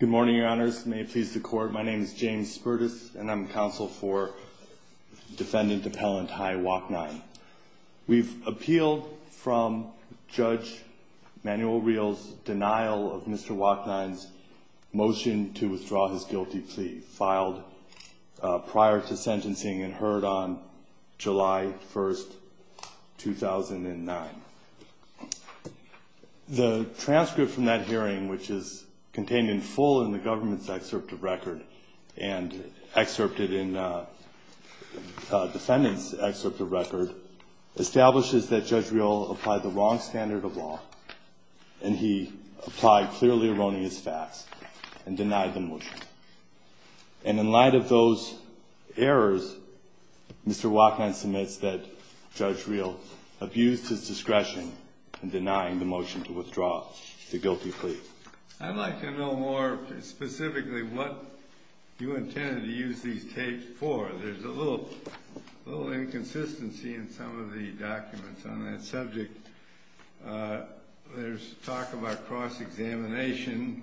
Good morning, your honors. May it please the court. My name is James Spertus, and I'm counsel for defendant Appellant Hai Waknine. We've appealed from Judge Manuel Real's denial of Mr. Waknine's motion to withdraw his guilty plea, filed prior to sentencing and heard on July 1st, 2009. The transcript from that hearing, which is contained in full in the government's excerpt of record and excerpted in defendant's excerpt of record, establishes that Judge Real applied the wrong standard of law, and he applied clearly erroneous facts and denied the motion. And in light of those errors, Mr. Waknine submits that Judge Real abused his discretion in denying the motion to withdraw the guilty plea. I'd like to know more specifically what you intended to use these tapes for. There's a little inconsistency in some of the documents on that subject. There's talk about cross-examination,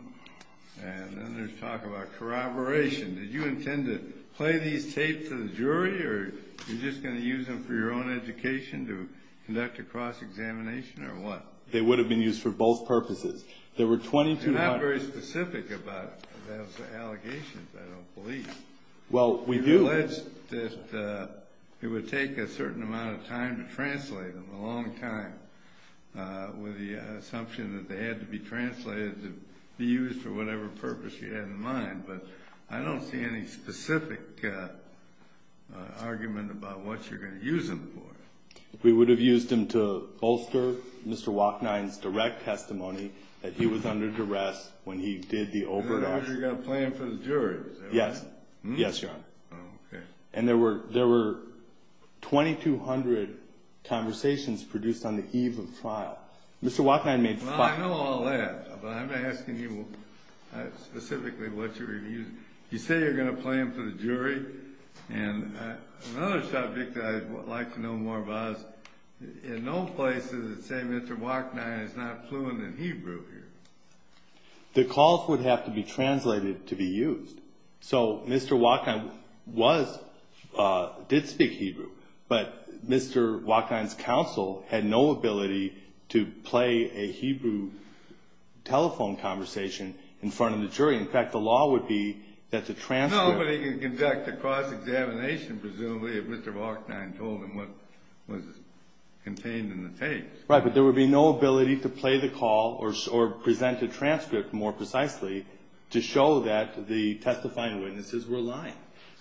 and then there's talk about corroboration. Did you intend to play these tapes to the jury, or you're just going to use them for your own education to conduct a cross-examination, or what? They would have been used for both purposes. There were 22 hundred… You're not very specific about those allegations, I don't believe. Well, we do. We alleged that it would take a certain amount of time to translate them, a long time, with the assumption that they had to be translated to be used for whatever purpose you had in mind. But I don't see any specific argument about what you're going to use them for. We would have used them to bolster Mr. Waknine's direct testimony that he was under duress when he did the overt action. So you're going to play them for the jury, is that right? Yes. Yes, Your Honor. Oh, okay. And there were 22 hundred conversations produced on the eve of the trial. Mr. Waknine made five. Well, I know all that, but I'm asking you specifically what you're going to use. You say you're going to play them for the jury, and another subject I'd like to know more about is in no place does it say Mr. Waknine is not fluent in Hebrew here. The calls would have to be translated to be used. So Mr. Waknine did speak Hebrew, but Mr. Waknine's counsel had no ability to play a Hebrew telephone conversation in front of the jury. In fact, the law would be that the transcript... No, but he could conduct a cross-examination, presumably, if Mr. Waknine told him what was contained in the tapes. Right, but there would be no ability to play the call or present a transcript, more precisely, to show that the testifying witnesses were lying.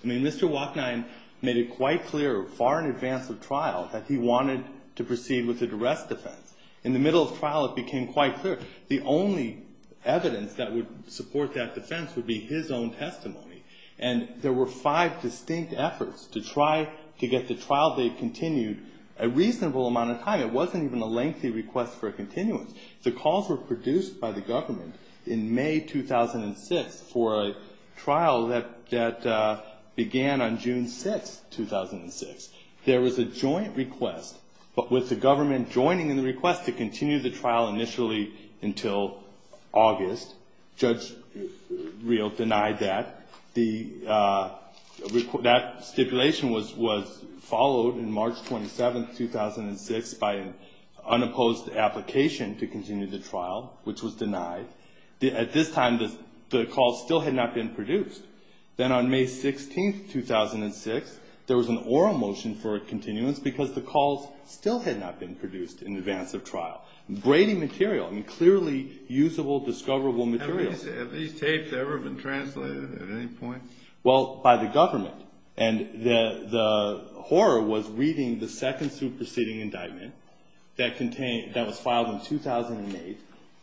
I mean, Mr. Waknine made it quite clear far in advance of trial that he wanted to proceed with a duress defense. In the middle of trial, it became quite clear the only evidence that would support that defense would be his own testimony. And there were five distinct efforts to try to get the trial date continued a reasonable amount of time. It wasn't even a lengthy request for a continuance. The calls were produced by the government in May 2006 for a trial that began on June 6, 2006. There was a joint request, but with the government joining in the request to continue the trial initially until August. Judge Riel denied that. That stipulation was followed on March 27, 2006 by an unopposed application to continue the trial, which was denied. At this time, the calls still had not been produced. Then on May 16, 2006, there was an oral motion for a continuance because the calls still had not been produced in advance of trial. Brady material. I mean, clearly usable, discoverable material. Have these tapes ever been translated at any point? Well, by the government. And the horror was reading the second superseding indictment that was filed in 2008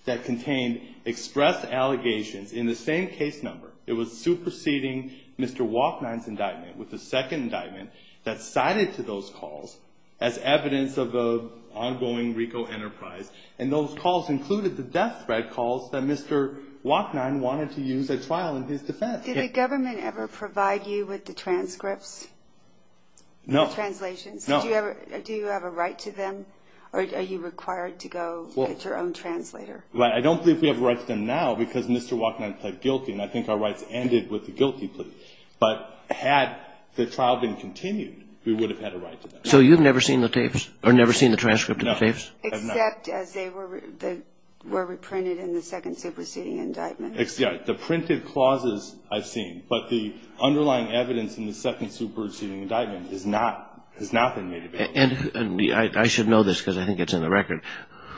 that contained express allegations in the same case number. It was superseding Mr. Walkman's indictment with the second indictment that cited to those calls as evidence of the ongoing Rico enterprise. And those calls included the death threat calls that Mr. Walkman wanted to use a trial in his defense. Did the government ever provide you with the transcripts? No. Translations. Do you have a right to them? Are you required to go get your own translator? I don't believe we have a right to them now because Mr. Walkman pled guilty. And I think our rights ended with the guilty plea. But had the trial been continued, we would have had a right to them. So you've never seen the tapes or never seen the transcript of the tapes? No. Except as they were reprinted in the second superseding indictment. Yeah. The printed clauses I've seen. But the underlying evidence in the second superseding indictment has not been made available. And I should know this because I think it's in the record.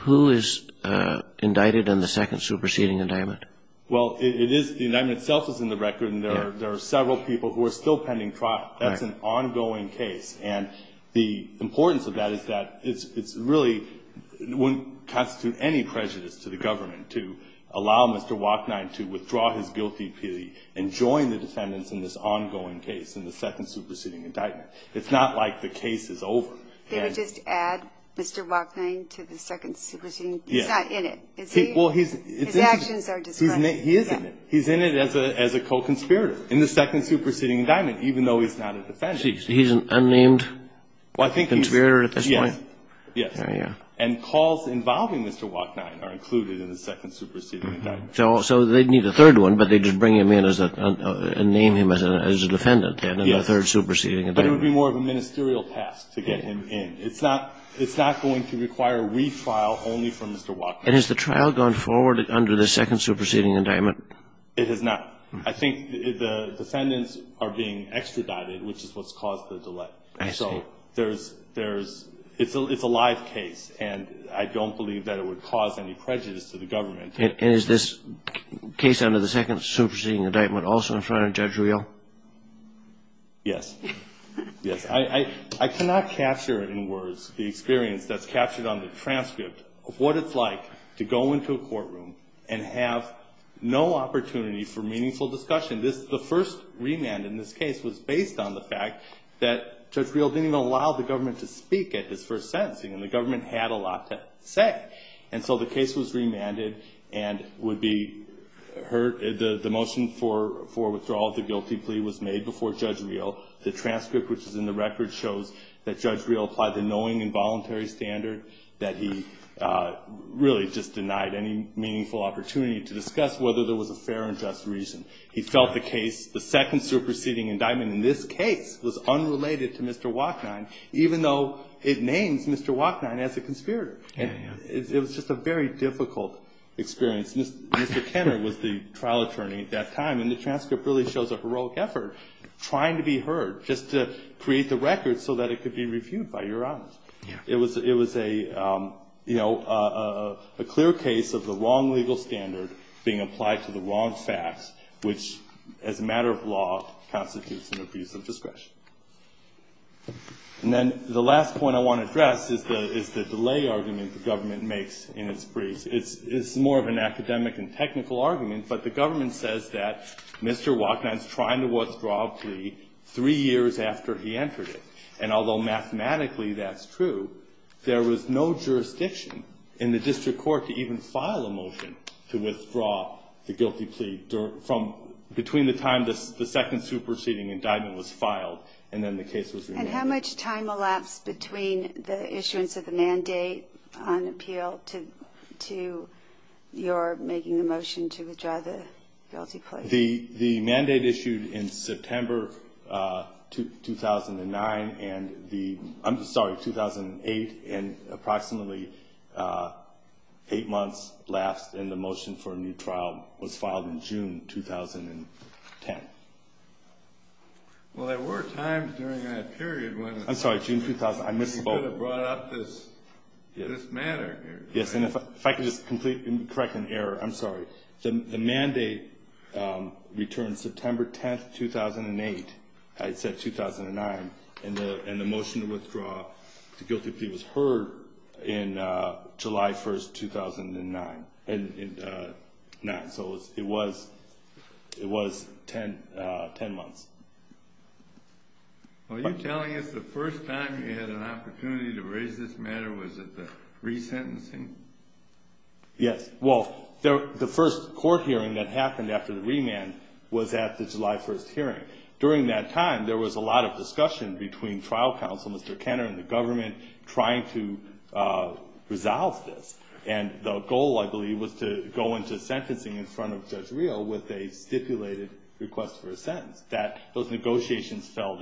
Who is indicted in the second superseding indictment? Well, it is the indictment itself is in the record. And there are several people who are still pending trial. That's an ongoing case. And the importance of that is that it's really wouldn't constitute any prejudice to the government to allow Mr. Walkman to withdraw his guilty plea and join the defendants in this ongoing case, in the second superseding indictment. It's not like the case is over. They would just add Mr. Walkman to the second superseding. He's not in it. His actions are described. He is in it. He's in it as a co-conspirator in the second superseding indictment, even though he's not a defendant. He's an unnamed conspirator at this point? Yes. And calls involving Mr. Walkman are included in the second superseding indictment. So they'd need a third one, but they'd just bring him in and name him as a defendant then in the third superseding indictment. But it would be more of a ministerial task to get him in. It's not going to require retrial only for Mr. Walkman. And has the trial gone forward under the second superseding indictment? It has not. I think the defendants are being extradited, which is what's caused the delay. I see. So there's – it's a live case, and I don't believe that it would cause any prejudice to the government. And is this case under the second superseding indictment also in front of Judge Reel? Yes. Yes. I cannot capture in words the experience that's captured on the transcript of what it's like to go into a courtroom and have no opportunity for meaningful discussion. The first remand in this case was based on the fact that Judge Reel didn't even allow the government to speak at his first sentencing, and the government had a lot to say. And so the case was remanded and would be heard. The motion for withdrawal of the guilty plea was made before Judge Reel. The transcript, which is in the record, shows that Judge Reel applied the knowing and voluntary standard that he really just denied any meaningful opportunity to discuss whether there was a fair and just reason. He felt the case – the second superseding indictment in this case was unrelated to Mr. Walkman, even though it names Mr. Walkman as a conspirator. It was just a very difficult experience. Mr. Kenner was the trial attorney at that time, and the transcript really shows a heroic effort, trying to be heard just to create the record so that it could be reviewed by Your Honors. It was a clear case of the wrong legal standard being applied to the wrong facts, which as a matter of law constitutes an abuse of discretion. And then the last point I want to address is the delay argument the government makes in its briefs. It's more of an academic and technical argument, but the government says that Mr. Walkman is trying to withdraw a plea three years after he entered it. And although mathematically that's true, there was no jurisdiction in the district court to even file a motion to withdraw the guilty plea between the time the second superseding indictment was filed and then the case was remanded. And how much time elapsed between the issuance of the mandate on appeal to your making the motion to withdraw the guilty plea? The mandate issued in September 2009 and the – I'm sorry, 2008, and approximately eight months left in the motion for a new trial was filed in June 2010. Well, there were times during that period when – I'm sorry, June – You could have brought up this matter. Yes, and if I could just correct an error, I'm sorry. The mandate returned September 10, 2008, I said 2009, and the motion to withdraw the guilty plea was heard in July 1, 2009. So it was 10 months. Are you telling us the first time you had an opportunity to raise this matter was at the resentencing? Yes. Well, the first court hearing that happened after the remand was at the July 1st hearing. During that time, there was a lot of discussion between trial counsel, Mr. Kenner, and the government trying to resolve this. And the goal, I believe, was to go into sentencing in front of Judge Real with a stipulated request for a sentence. Those negotiations fell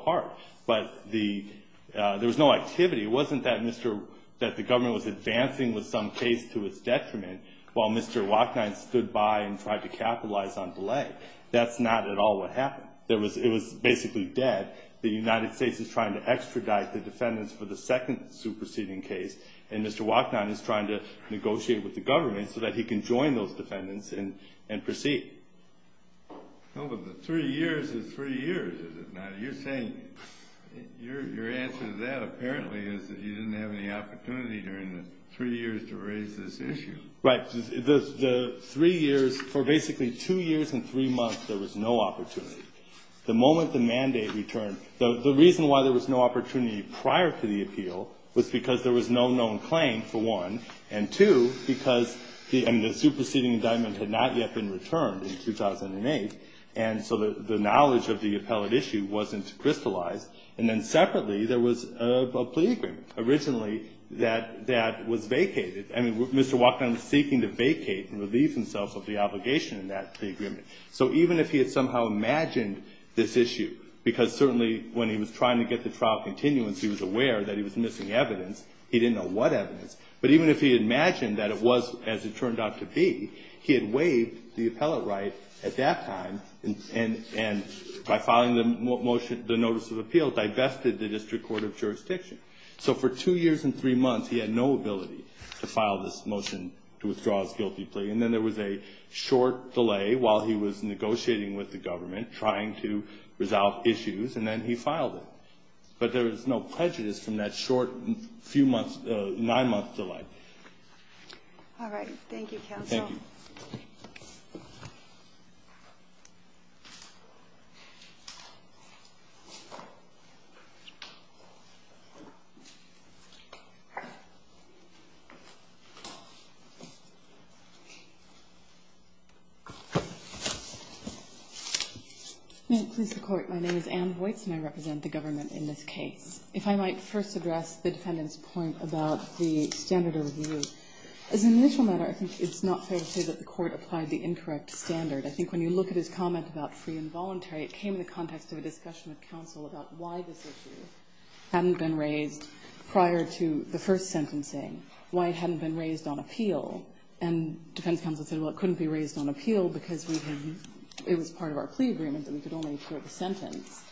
apart. But there was no activity. It wasn't that the government was advancing with some case to its detriment while Mr. Wachnine stood by and tried to capitalize on delay. That's not at all what happened. It was basically dead. The United States is trying to extradite the defendants for the second superseding case, and Mr. Wachnine is trying to negotiate with the government so that he can join those defendants and proceed. Well, but the three years is three years, is it not? You're saying your answer to that apparently is that you didn't have any opportunity during the three years to raise this issue. Right. The three years, for basically two years and three months, there was no opportunity. The moment the mandate returned, the reason why there was no opportunity prior to the appeal was because there was no known claim, for one, and two, because the superseding indictment had not yet been returned in 2008, and so the knowledge of the appellate issue wasn't crystallized. And then separately, there was a plea agreement originally that was vacated. I mean, Mr. Wachnine was seeking to vacate and relieve himself of the obligation in that plea agreement. So even if he had somehow imagined this issue, because certainly when he was trying to get the trial continuance, he was aware that he was missing evidence. He didn't know what evidence. But even if he had imagined that it was as it turned out to be, he had waived the appellate right at that time, and by filing the Notice of Appeal, divested the District Court of Jurisdiction. So for two years and three months, he had no ability to file this motion to withdraw his guilty plea. And then there was a short delay while he was negotiating with the government, trying to resolve issues, and then he filed it. But there was no prejudice from that short nine-month delay. All right. Thank you, Counsel. Thank you. Ann Vojts. May it please the Court. My name is Ann Vojts, and I represent the government in this case. If I might first address the defendant's point about the standard of review. As an initial matter, I think it's not fair to say that the Court applied the incorrect standard. I think when you look at his comment about free and voluntary, it came in the context of a discussion with counsel about why this issue hadn't been raised prior to the first sentencing, why it hadn't been raised on appeal. And defense counsel said, well, it couldn't be raised on appeal because we had used it as part of our plea agreement, and we could only afford the sentence.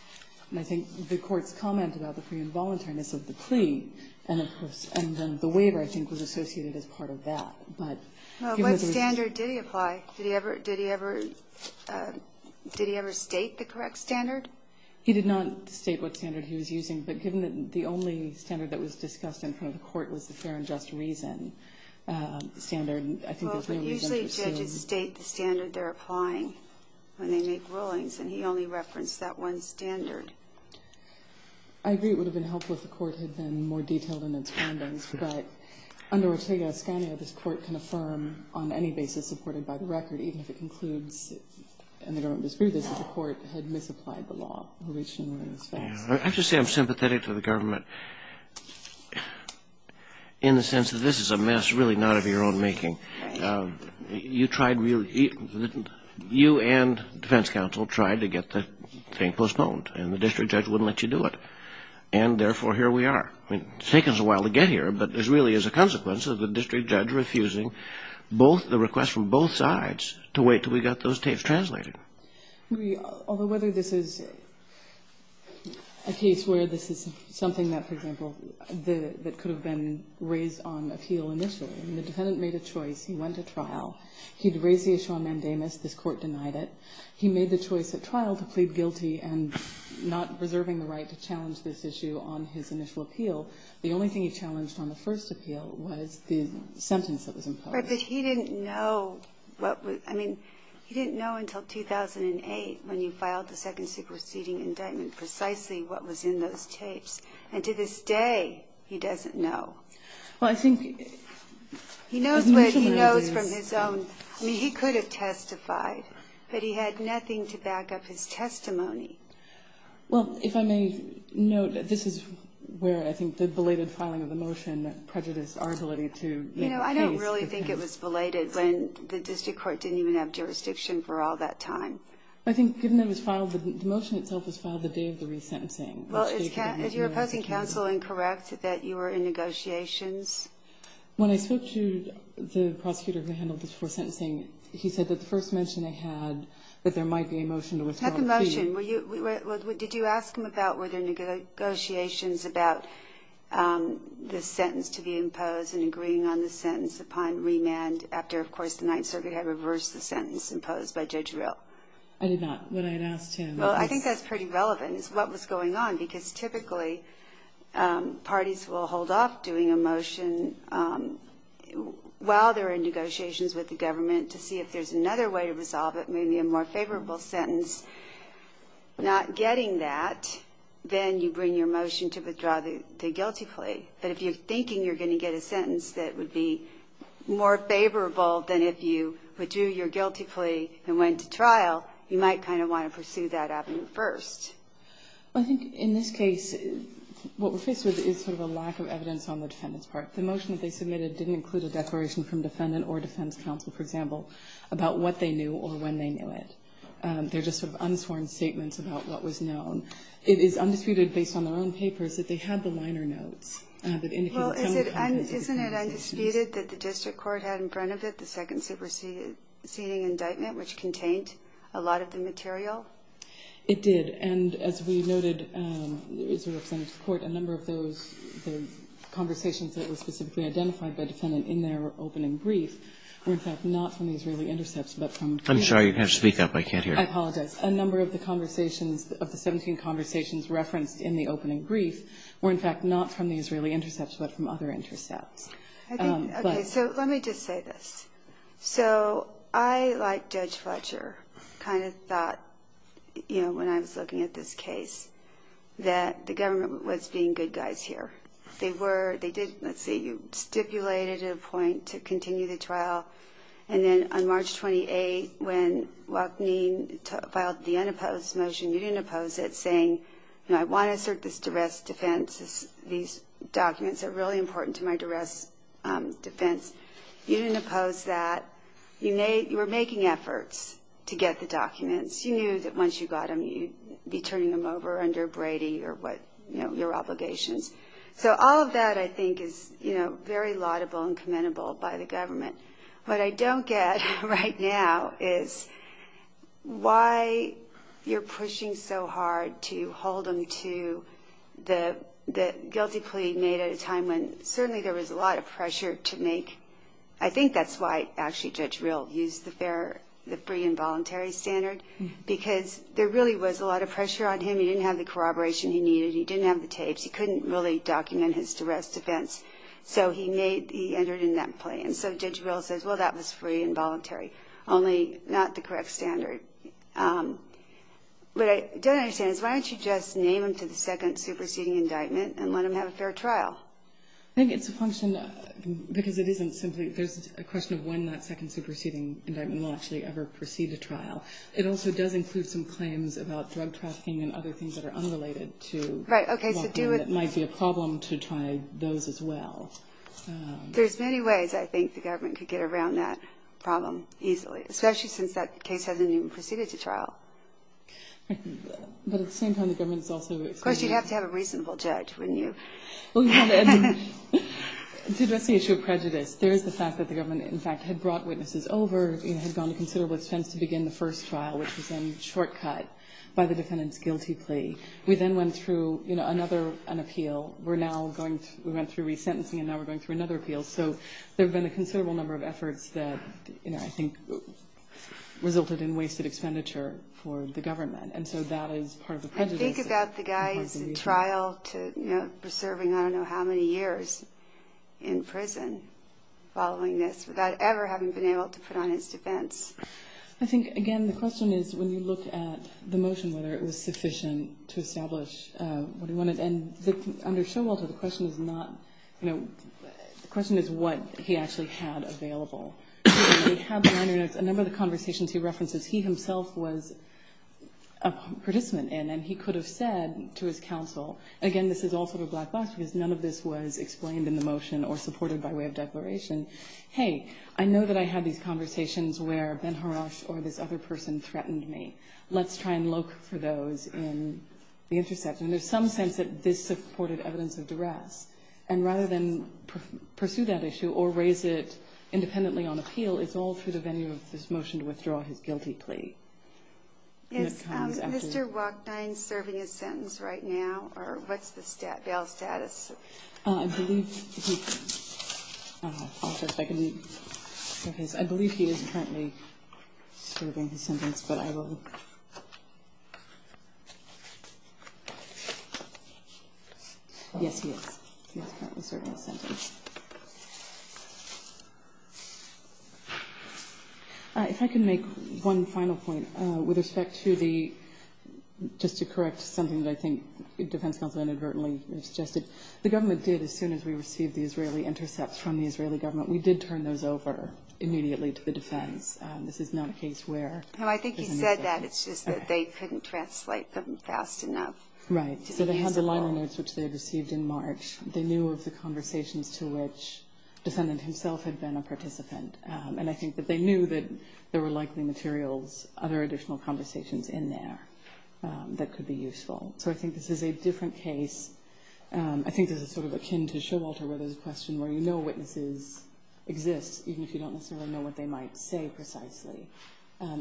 And I think the Court's comment about the free and voluntariness of the plea, and then the waiver, I think, was associated as part of that. But given that there's no standard. What standard did he apply? Did he ever state the correct standard? He did not state what standard he was using. But given that the only standard that was discussed in front of the Court was the fair and just reason standard, I think there's no reason to assume. Well, but usually judges state the standard they're applying when they make rulings, and he only referenced that one standard. I agree it would have been helpful if the Court had been more detailed in its findings. But under Ortega-Escanio, this Court can affirm on any basis supported by the record, even if it concludes, and the government disproves this, that the Court had misapplied the law. I have to say I'm sympathetic to the government in the sense that this is a mess really not of your own making. You tried really you and defense counsel tried to get the thing postponed, and the district judge wouldn't let you do it. And therefore, here we are. I mean, it's taken us a while to get here, but this really is a consequence of the district judge refusing both the requests from both sides to wait until we got those tapes translated. Although whether this is a case where this is something that, for example, that could have been raised on appeal initially, the defendant made a choice. He went to trial. He had raised the issue on mandamus. This Court denied it. He made the choice at trial to plead guilty and not preserving the right to challenge this issue on his initial appeal. The only thing he challenged on the first appeal was the sentence that was imposed. But he didn't know what was – I mean, he didn't know until 2008, when you filed the second secret seating indictment, precisely what was in those tapes. And to this day, he doesn't know. Well, I think – He knows what he knows from his own. I mean, he could have testified, but he had nothing to back up his testimony. Well, if I may note, this is where I think the belated filing of the motion prejudiced our ability to make a case. You know, I don't really think it was belated when the district court didn't even have jurisdiction for all that time. I think, given that it was filed – the motion itself was filed the day of the resentencing. Well, is your opposing counsel incorrect that you were in negotiations? When I spoke to the prosecutor who handled this before sentencing, he said that the Did you ask him about – were there negotiations about the sentence to be imposed and agreeing on the sentence upon remand after, of course, the Ninth Circuit had reversed the sentence imposed by Judge Rill? I did not. When I had asked him – Well, I think that's pretty relevant, is what was going on. Because typically, parties will hold off doing a motion while they're in negotiations with the government to see if there's another way to resolve it. Maybe a more favorable sentence. Not getting that, then you bring your motion to withdraw the guilty plea. But if you're thinking you're going to get a sentence that would be more favorable than if you withdrew your guilty plea and went to trial, you might kind of want to pursue that avenue first. Well, I think in this case, what we're faced with is sort of a lack of evidence on the defendant's part. The motion that they submitted didn't include a declaration from defendant or defense counsel, for example, about what they knew or when they knew it. They're just sort of unsworn statements about what was known. It is undisputed, based on their own papers, that they had the liner notes that indicated some kind of – Well, isn't it undisputed that the district court had in front of it the second superseding indictment, which contained a lot of the material? It did. And as we noted, there is a representative of the court, a number of those – the conversations that were specifically identified by the defendant in their opening brief were, in fact, not from the Israeli intercepts but from – I'm sorry, you're going to have to speak up. I can't hear. I apologize. A number of the conversations of the 17 conversations referenced in the opening brief were, in fact, not from the Israeli intercepts but from other intercepts. Okay. So let me just say this. So I, like Judge Fletcher, kind of thought, you know, when I was looking at this case, that the government was being good guys here. They were. They did, let's see, stipulate at a point to continue the trial. And then on March 28, when Waknin filed the unopposed motion, you didn't oppose it, saying, you know, I want to assert this duress defense. These documents are really important to my duress defense. You didn't oppose that. You were making efforts to get the documents. You knew that once you got them, you'd be turning them over under Brady or what, you know, your obligations. So all of that, I think, is, you know, very laudable and commendable by the government. What I don't get right now is why you're pushing so hard to hold them to the guilty plea made at a time when certainly there was a lot of pressure to make. I think that's why actually Judge Rill used the free and voluntary standard, because there really was a lot of pressure on him. He didn't have the corroboration he needed. He didn't have the tapes. He couldn't really document his duress defense. So he made, he entered in that plea. And so Judge Rill says, well, that was free and voluntary, only not the correct standard. What I don't understand is why don't you just name him to the second superseding indictment and let him have a fair trial? I think it's a function, because it isn't simply, there's a question of when that second superseding indictment will actually ever proceed to trial. It also does include some claims about drug trafficking and other things that are unrelated to what might be a problem to try those as well. There's many ways I think the government could get around that problem easily, especially since that case hasn't even proceeded to trial. But at the same time, the government is also expanding. Of course, you'd have to have a reasonable judge, wouldn't you? To address the issue of prejudice, there is the fact that the government, in fact, had brought witnesses over and had gone to considerable expense to begin the first trial, which was then shortcut by the defendant's guilty plea. We then went through another appeal. We went through resentencing, and now we're going through another appeal. So there have been a considerable number of efforts that I think resulted in wasted expenditure for the government. And so that is part of the prejudice. I think about the guy's trial preserving I don't know how many years in prison following this without ever having been able to put on his defense. I think, again, the question is when you look at the motion, whether it was sufficient to establish what he wanted. And under Showalter, the question is not, you know, the question is what he actually had available. A number of the conversations he references, he himself was a participant in, and he could have said to his counsel, again, this is all sort of black box because none of this was explained in the motion or supported by way of declaration, hey, I know that I had these conversations where Ben Harash or this other person threatened me. Let's try and look for those in the interception. There's some sense that this supported evidence of duress. And rather than pursue that issue or raise it independently on appeal, it's all through the venue of this motion to withdraw his guilty plea. Is Mr. Wachdein serving a sentence right now, or what's the bail status? I believe he is currently serving his sentence, but I will. Yes, he is. He is currently serving his sentence. If I can make one final point with respect to the, just to correct something that I think defense counsel inadvertently suggested. The government did, as soon as we received the Israeli intercepts from the Israeli government, we did turn those over immediately to the defense. This is not a case where. No, I think he said that. It's just that they couldn't translate them fast enough. Right. So they had the liner notes, which they had received in March. They knew of the conversations to which the defendant himself had been a participant, and I think that they knew that there were likely materials, other additional conversations in there that could be useful. So I think this is a different case. I think this is sort of akin to Showalter where there's a question where you know witnesses exist, even if you don't necessarily know what they might say precisely,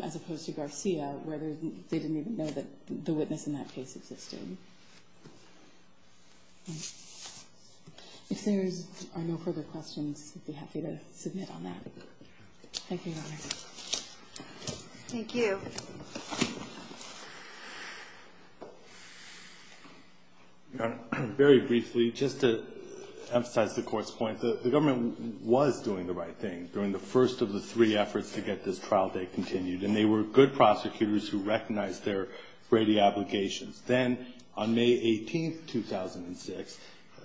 as opposed to Garcia where they didn't even know that the witness in that case existed. If there are no further questions, I'd be happy to submit on that. Thank you, Your Honor. Thank you. Your Honor, very briefly, just to emphasize the Court's point, the government was doing the right thing during the first of the three efforts to get this trial date continued, and they were good prosecutors who recognized their Brady obligations. Then on May 18, 2006,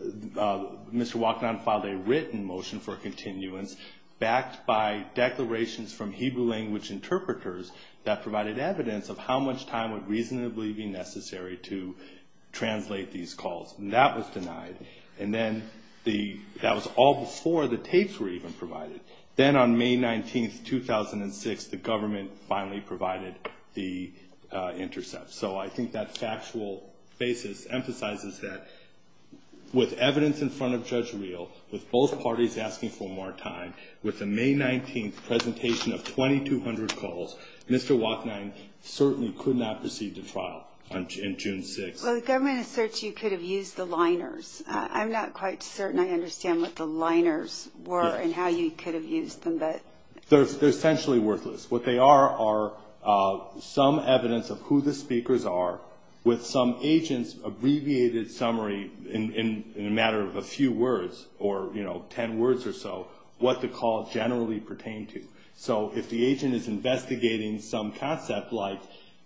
Mr. Walkenau filed a written motion for continuance, backed by declarations from Hebrew language interpreters that provided evidence of how much time would reasonably be necessary to translate these calls, and that was denied. And then that was all before the tapes were even provided. Then on May 19, 2006, the government finally provided the intercepts. So I think that factual basis emphasizes that with evidence in front of Judge Reel, with both parties asking for more time, with the May 19 presentation of 2,200 calls, Mr. Walkenau certainly could not proceed to trial in June 6. Well, the government asserts you could have used the liners. I'm not quite certain I understand what the liners were and how you could have used them. They're essentially worthless. What they are are some evidence of who the speakers are with some agent's abbreviated summary, in a matter of a few words or, you know, ten words or so, what the call generally pertained to. So if the agent is investigating some concept like,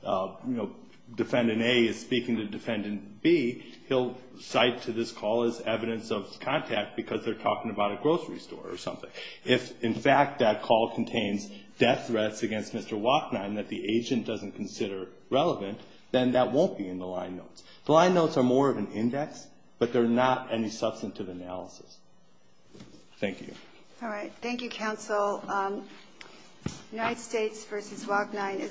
you know, Defendant A is speaking to Defendant B, he'll cite to this call as evidence of contact because they're talking about a grocery store or something. If, in fact, that call contains death threats against Mr. Walkenau and that the agent doesn't consider relevant, then that won't be in the line notes. The line notes are more of an index, but they're not any substantive analysis. Thank you. All right. Thank you, counsel. United States v. Walkenau.